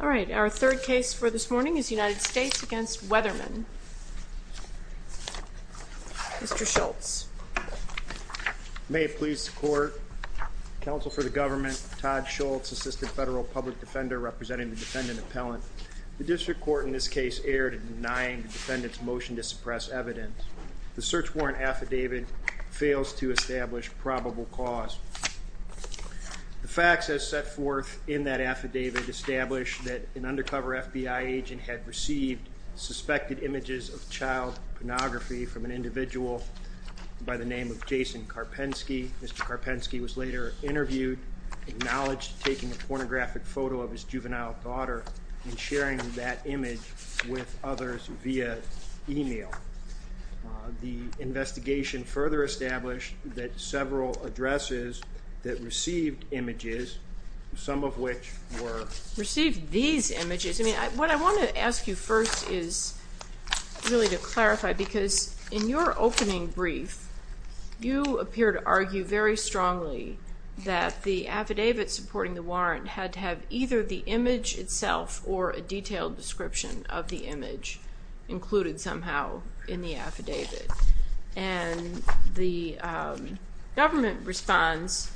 All right, our third case for this morning is United States v. Weatherman. Mr. Schultz. May it please the court, counsel for the government, Todd Schultz, assistant federal public defender representing the defendant appellant. The district court in this case erred in denying the defendant's motion to suppress evidence. The search warrant affidavit fails to establish probable cause. The facts as set forth in that affidavit establish that an undercover FBI agent had received suspected images of child pornography from an individual by the name of Jason Karpensky. Mr. Karpensky was later interviewed, acknowledged taking a pornographic photo of his juvenile daughter and sharing that image with others via email. The investigation further established that several addresses that received images, some of which were... that the affidavit supporting the warrant had to have either the image itself or a detailed description of the image included somehow in the affidavit. And the government responds,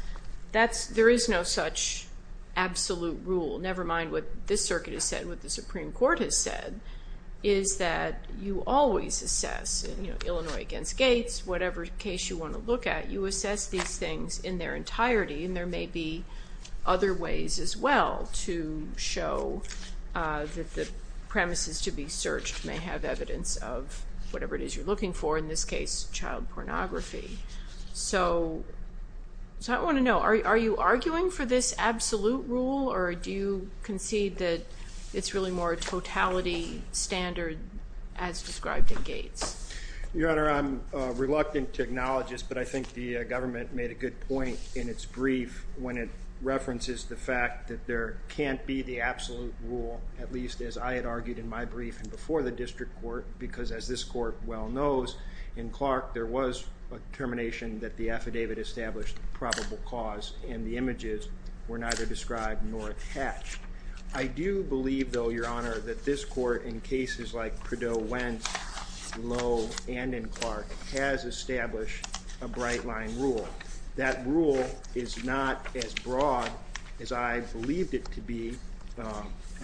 there is no such absolute rule, never mind what this circuit has said, what the Supreme Court has said, is that you always assess, you know, Illinois against Gates, whatever case you want to look at, you assess these things in their entirety and there may be other ways as well to show that the premises to be searched may have evidence of whatever it is you're looking for, in this case, child pornography. So I want to know, are you arguing for this absolute rule or do you concede that it's really more a totality standard as described in Gates? Your Honor, I'm reluctant to acknowledge this, but I think the government made a good point in its brief when it references the fact that there can't be the absolute rule, at least as I had argued in my brief and before the district court, because as this court well knows, in Clark there was a termination that the affidavit established probable cause and the images were neither described nor attached. I do believe, though, Your Honor, that this court, in cases like Perdot, Wentz, Lowe, and in Clark, has established a bright line rule. That rule is not as broad as I believed it to be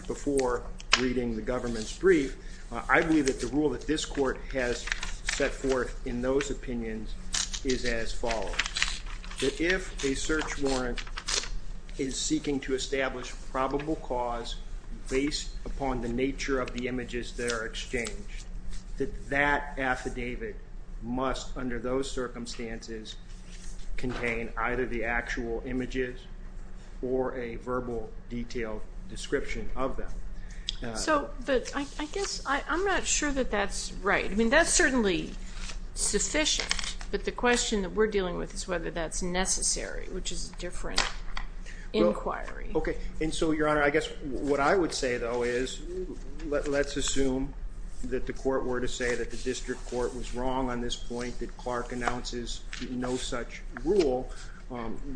before reading the government's brief. I believe that the rule that this court has set forth in those opinions is as follows, that if a search warrant is seeking to establish probable cause based upon the nature of the images that are exchanged, that that affidavit must, under those circumstances, contain either the actual images or a verbal detailed description of them. So, but I guess I'm not sure that that's right. I mean, that's certainly sufficient, but the question that we're dealing with is whether that's necessary, which is a different inquiry. Okay, and so, Your Honor, I guess what I would say, though, is let's assume that the court were to say that the district court was wrong on this point that Clark announces no such rule.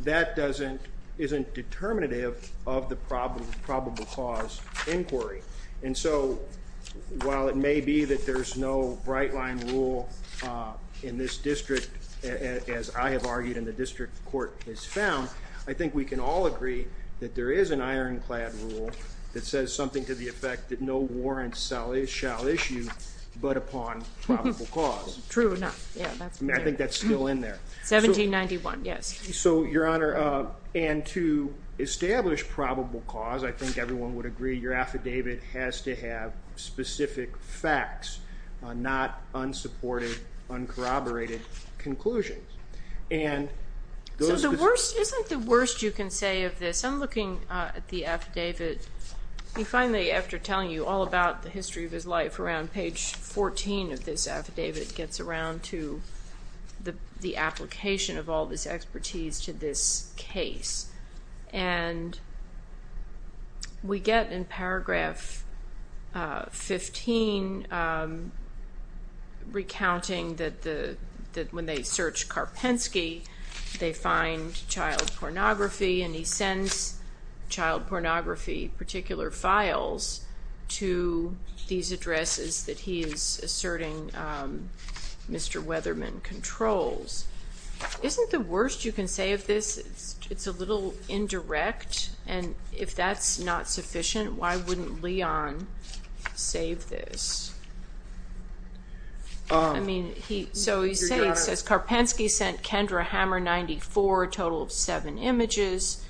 That doesn't, isn't determinative of the probable cause inquiry. And so, while it may be that there's no bright line rule in this district, as I have argued in the district court has found, I think we can all agree that there is an ironclad rule that says something to the effect that no warrant shall issue but upon probable cause. True enough, yeah. I think that's still in there. 1791, yes. So, Your Honor, and to establish probable cause, I think everyone would agree your affidavit has to have specific facts, not unsupported, uncorroborated conclusions. So, the worst, isn't the worst you can say of this? I'm looking at the affidavit, and finally, after telling you all about the history of his life, around page 14 of this affidavit gets around to the application of all this expertise to this case. And we get in paragraph 15, recounting that when they search Karpensky, they find child pornography, and he sends child pornography, particular files, to these addresses that he is asserting Mr. Weatherman controls. Isn't the worst you can say of this, it's a little indirect, and if that's not sufficient, why wouldn't Leon save this? I mean, so he's saying, he says Karpensky sent Kendra Hammer 94, a total of 7 images,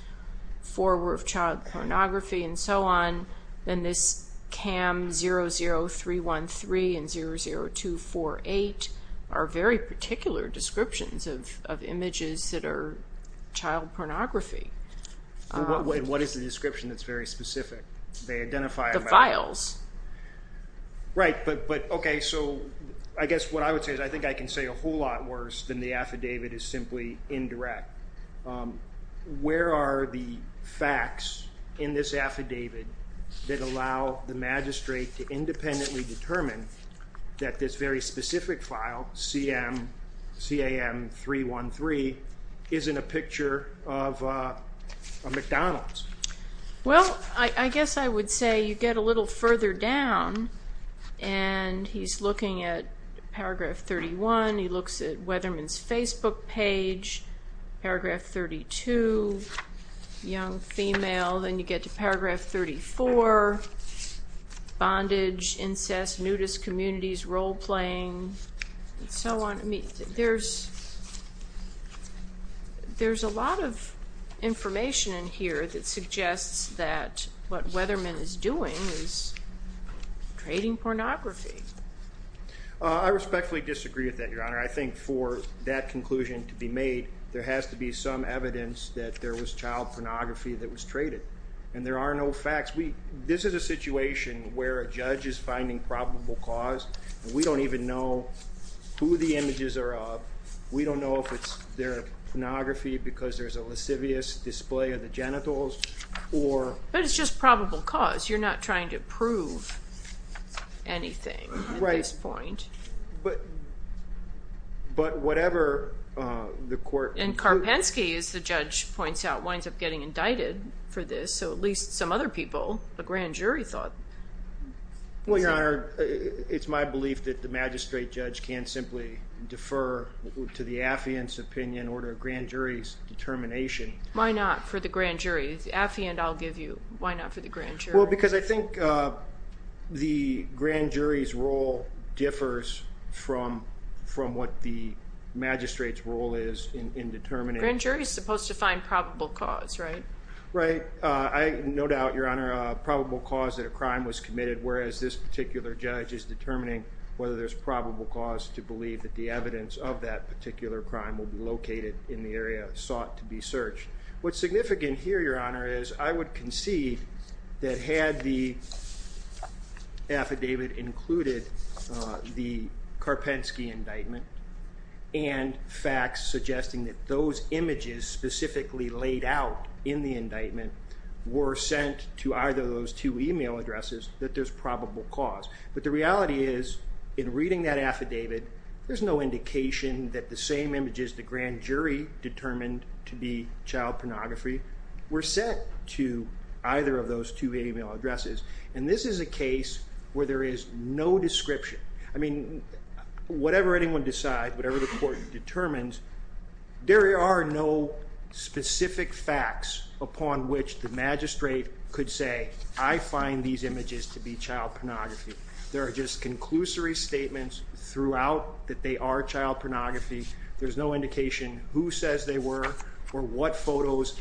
4 were of child pornography and so on, and this CAM 00313 and 00248 are very particular descriptions of images that are child pornography. What is the description that's very specific? The files. Right, but okay, so I guess what I would say is I think I can say a whole lot worse than the affidavit is simply indirect. Where are the facts in this affidavit that allow the magistrate to independently determine that this very specific file, CAM 00313, isn't a picture of a McDonald's? Well, I guess I would say you get a little further down, and he's looking at paragraph 31, he looks at Weatherman's Facebook page, paragraph 32, young female, then you get to paragraph 34, bondage, incest, nudist communities, role playing, and so on. There's a lot of information in here that suggests that what Weatherman is doing is trading pornography. I respectfully disagree with that, Your Honor. I think for that conclusion to be made, there has to be some evidence that there was child pornography that was traded, and there are no facts. This is a situation where a judge is finding probable cause, and we don't even know who the images are of. We don't know if they're pornography because there's a lascivious display of the genitals, or... But it's just probable cause. You're not trying to prove anything at this point. Right, but whatever the court... And Karpensky, as the judge points out, winds up getting indicted for this, so at least some other people, a grand jury, thought... Well, Your Honor, it's my belief that the magistrate judge can't simply defer to the affiant's opinion or the grand jury's determination. Why not for the grand jury? The affiant, I'll give you. Why not for the grand jury? Well, because I think the grand jury's role differs from what the magistrate's role is in determining... Grand jury's supposed to find probable cause, right? No doubt, Your Honor, probable cause that a crime was committed, whereas this particular judge is determining whether there's probable cause to believe that the evidence of that particular crime will be located in the area sought to be searched. What's significant here, Your Honor, is I would concede that had the affidavit included the Karpensky indictment and facts suggesting that those images specifically laid out in the indictment were sent to either of those two email addresses, that there's probable cause. But the reality is, in reading that affidavit, there's no indication that the same images the grand jury determined to be child pornography were sent to either of those two email addresses, and this is a case where there is no description. I mean, whatever anyone decides, whatever the court determines, there are no specific facts upon which the magistrate could say, I find these images to be child pornography. There are just conclusory statements throughout that they are child pornography. There's no indication who says they were or what photos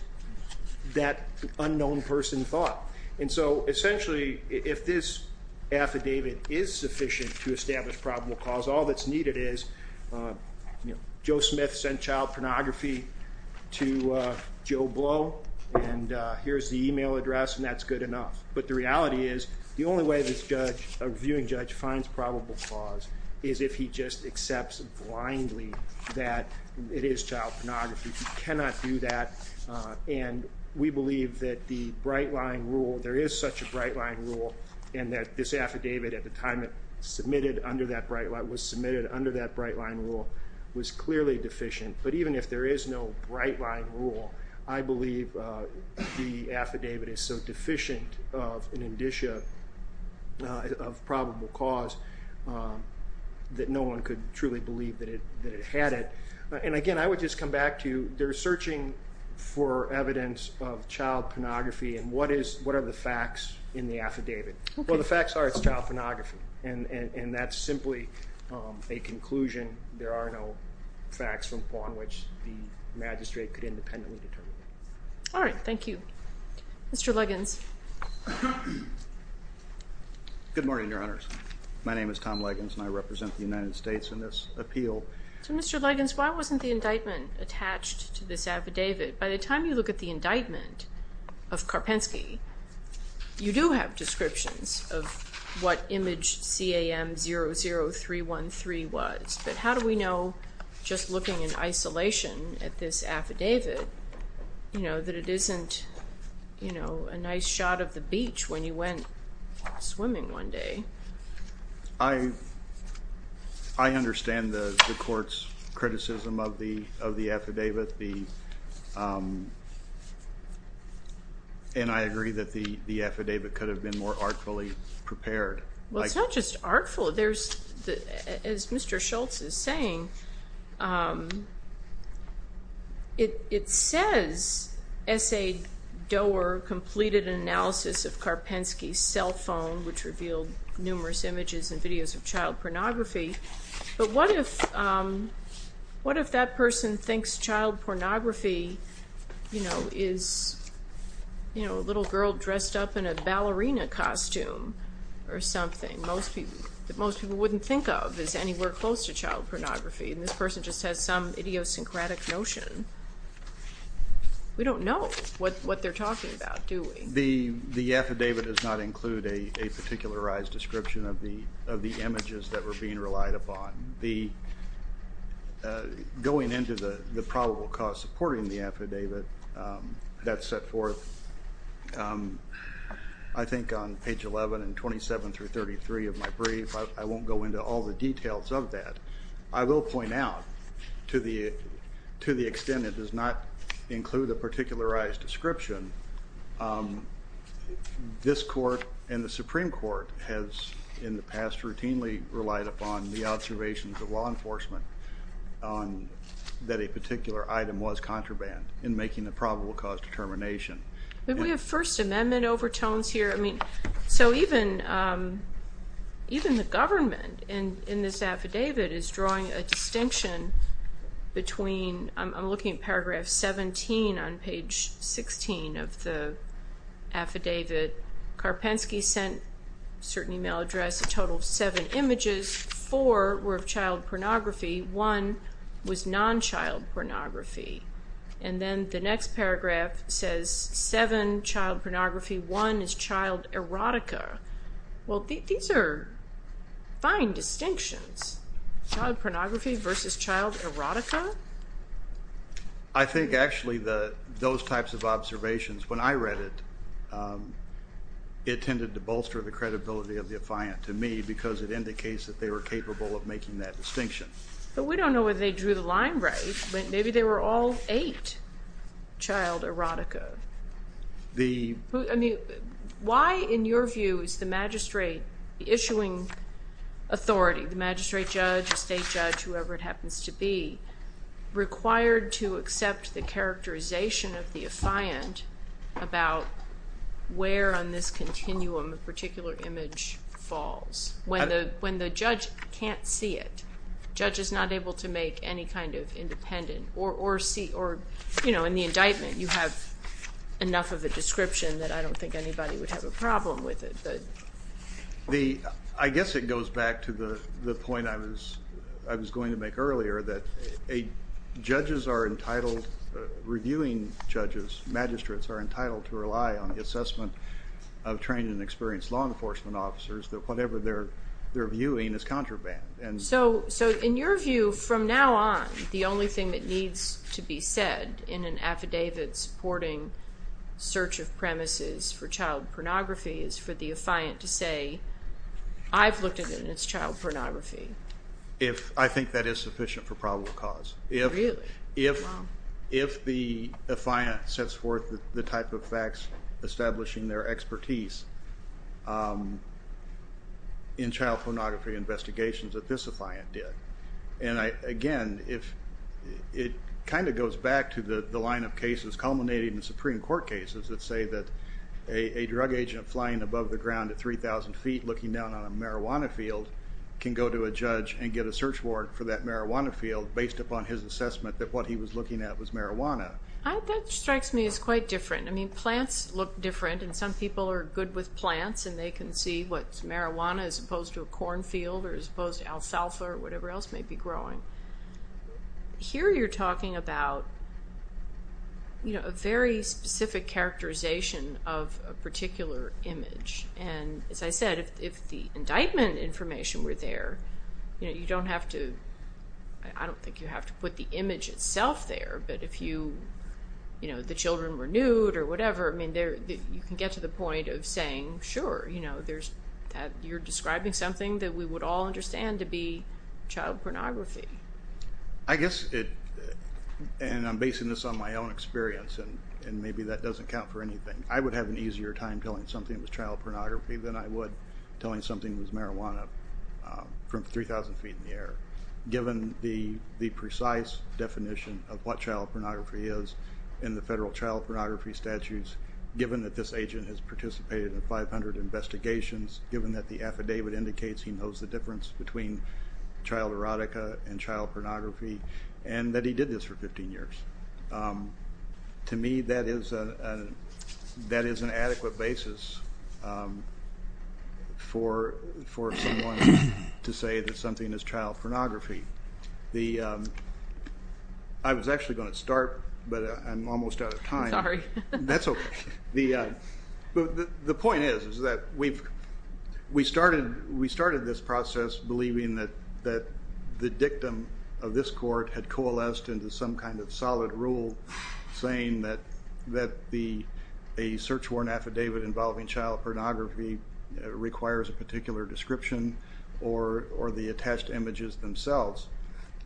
that unknown person thought. And so essentially, if this affidavit is sufficient to establish probable cause, all that's needed is Joe Smith sent child pornography to Joe Blow, and here's the email address, and that's good enough. But the reality is, the only way this judge, a reviewing judge, finds probable cause is if he just accepts blindly that it is child pornography. You cannot do that, and we believe that the bright line rule, there is such a bright line rule, and that this affidavit at the time it was submitted under that bright line rule was clearly deficient. But even if there is no bright line rule, I believe the affidavit is so deficient of an indicia of probable cause that no one could truly believe that it had it. And again, I would just come back to they're searching for evidence of child pornography, and what are the facts in the affidavit? Well, the facts are it's child pornography, and that's simply a conclusion. There are no facts upon which the magistrate could independently determine. All right. Thank you. Mr. Liggins. Good morning, Your Honors. My name is Tom Liggins, and I represent the United States in this appeal. So, Mr. Liggins, why wasn't the indictment attached to this affidavit? By the time you look at the indictment of Karpensky, you do have descriptions of what image CAM00313 was. But how do we know just looking in isolation at this affidavit, you know, that it isn't, you know, a nice shot of the beach when you went swimming one day? I understand the court's criticism of the affidavit, and I agree that the affidavit could have been more artfully prepared. Well, it's not just artful. As Mr. Schultz is saying, it says S.A. Doerr completed an analysis of Karpensky's cell phone, which revealed numerous images and videos of child pornography. But what if that person thinks child pornography, you know, is, you know, a little girl dressed up in a ballerina costume or something that most people wouldn't think of as anywhere close to child pornography? And this person just has some idiosyncratic notion. We don't know what they're talking about, do we? The affidavit does not include a particularized description of the images that were being relied upon. Going into the probable cause supporting the affidavit, that's set forth, I think, on page 11 and 27 through 33 of my brief. I won't go into all the details of that. I will point out, to the extent it does not include a particularized description, this court and the Supreme Court has, in the past, routinely relied upon the observations of law enforcement that a particular item was contraband in making the probable cause determination. We have First Amendment overtones here. I mean, so even the government in this affidavit is drawing a distinction between, I'm looking at paragraph 17 on page 16 of the affidavit. Karpensky sent a certain email address, a total of seven images. Four were of child pornography. One was non-child pornography. And then the next paragraph says seven child pornography, one is child erotica. Well, these are fine distinctions. Child pornography versus child erotica? I think, actually, those types of observations, when I read it, it tended to bolster the credibility of the affiant to me because it indicates that they were capable of making that distinction. But we don't know whether they drew the line right. Maybe they were all eight child erotica. I mean, why, in your view, is the magistrate issuing authority, the magistrate judge, the state judge, whoever it happens to be, required to accept the characterization of the affiant about where on this continuum a particular image falls? When the judge can't see it, judge is not able to make any kind of independent, or in the indictment you have enough of a description that I don't think anybody would have a problem with it. I guess it goes back to the point I was going to make earlier that judges are entitled, reviewing judges, magistrates are entitled to rely on the assessment of trained and experienced law enforcement officers that whatever they're viewing is contraband. So in your view, from now on, the only thing that needs to be said in an affidavit supporting search of premises for child pornography is for the affiant to say, I've looked at it and it's child pornography. I think that is sufficient for probable cause. Really? Wow. If the affiant sets forth the type of facts establishing their expertise in child pornography investigations that this affiant did. Again, it kind of goes back to the line of cases culminating in Supreme Court cases that say that a drug agent flying above the ground at 3,000 feet looking down on a marijuana field can go to a judge and get a search warrant for that marijuana field based upon his assessment that what he was looking at was marijuana. That strikes me as quite different. Plants look different and some people are good with plants and they can see what's marijuana as opposed to a corn field or as opposed to alfalfa or whatever else may be growing. Here you're talking about a very specific characterization of a particular image. As I said, if the indictment information were there, you don't have to, I don't think you have to put the image itself there, but if the children were nude or whatever, you can get to the point of saying, sure, you're describing something that we would all understand to be child pornography. I guess it, and I'm basing this on my own experience and maybe that doesn't count for anything, I would have an easier time telling something was child pornography than I would telling something was marijuana from 3,000 feet in the air. And that he did this for 15 years. To me, that is an adequate basis for someone to say that something is child pornography. I was actually going to start, but I'm almost out of time. Sorry. That's okay. The point is that we started this process believing that the dictum of this court had coalesced into some kind of solid rule saying that a search warrant affidavit involving child pornography requires a particular description or the attached images themselves.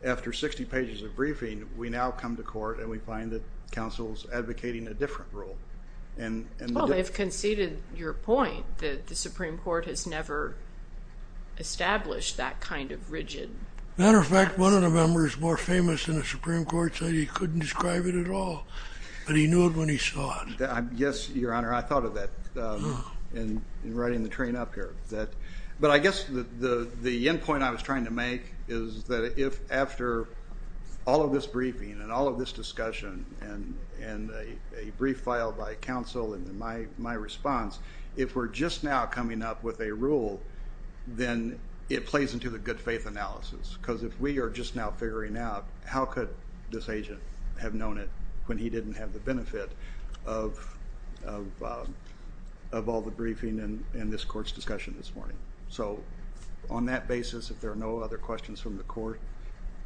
After 60 pages of briefing, we now come to court and we find that counsel's advocating a different rule. Well, they've conceded your point that the Supreme Court has never established that kind of rigid. Matter of fact, one of the members more famous in the Supreme Court said he couldn't describe it at all, but he knew it when he saw it. Yes, Your Honor, I thought of that in writing the train up here. But I guess the end point I was trying to make is that if after all of this briefing and all of this discussion and a brief filed by counsel and my response, if we're just now coming up with a rule, then it plays into the good faith analysis. Because if we are just now figuring out how could this agent have known it when he didn't have the benefit of all the briefing and this court's discussion this morning. So on that basis, if there are no other questions from the court,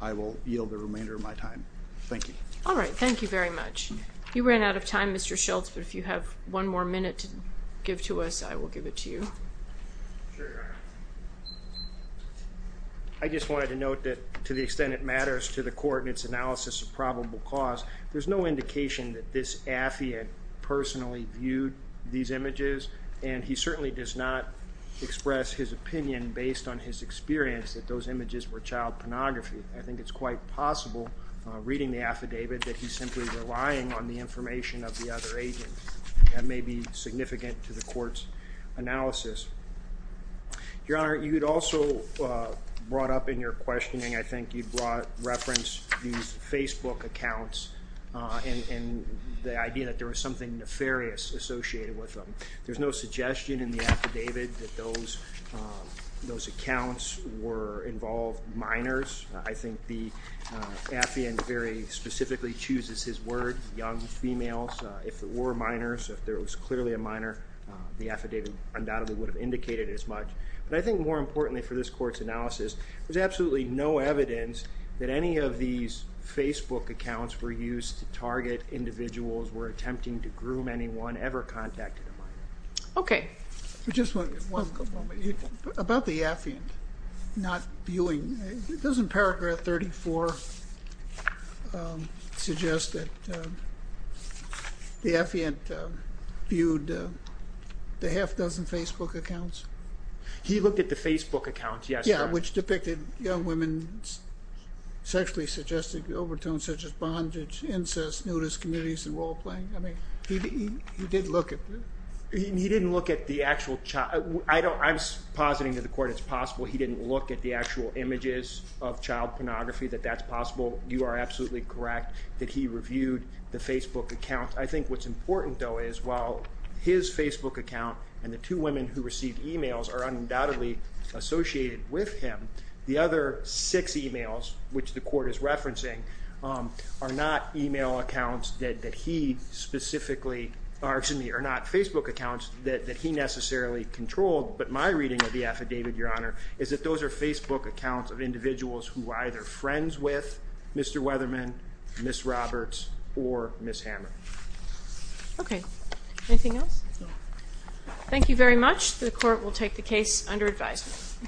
I will yield the remainder of my time. Thank you. All right. Thank you very much. You ran out of time, Mr. Schultz, but if you have one more minute to give to us, I will give it to you. Sure, Your Honor. I just wanted to note that to the extent it matters to the court in its analysis of probable cause, there's no indication that this affidavit personally viewed these images, and he certainly does not express his opinion based on his experience that those images were child pornography. I think it's quite possible, reading the affidavit, that he's simply relying on the information of the other agent. That may be significant to the court's analysis. Your Honor, you had also brought up in your questioning, I think you brought reference to these Facebook accounts and the idea that there was something nefarious associated with them. There's no suggestion in the affidavit that those accounts were involved minors. I think the affiant very specifically chooses his word, young females. If there were minors, if there was clearly a minor, the affidavit undoubtedly would have indicated as much. But I think more importantly for this court's analysis, there's absolutely no evidence that any of these Facebook accounts were used to target individuals who were attempting to groom anyone ever contacted a minor. Okay. Just one moment. About the affiant not viewing, doesn't paragraph 34 suggest that the affiant viewed the half-dozen Facebook accounts? He looked at the Facebook accounts, yes. Yeah, which depicted young women sexually suggested overtones such as bondage, incest, nudist communities, and role-playing. He didn't look at the actual child. I'm positing to the court it's possible he didn't look at the actual images of child pornography, that that's possible. You are absolutely correct that he reviewed the Facebook account. I think what's important, though, is while his Facebook account and the two women who received e-mails are undoubtedly associated with him, the other six e-mails, which the court is referencing, are not e-mail accounts that he specifically, or excuse me, are not Facebook accounts that he necessarily controlled. But my reading of the affidavit, Your Honor, is that those are Facebook accounts of individuals who were either friends with Mr. Weatherman, Ms. Roberts, or Ms. Hammer. Okay. Anything else? No. Thank you very much. The court will take the case under advisement.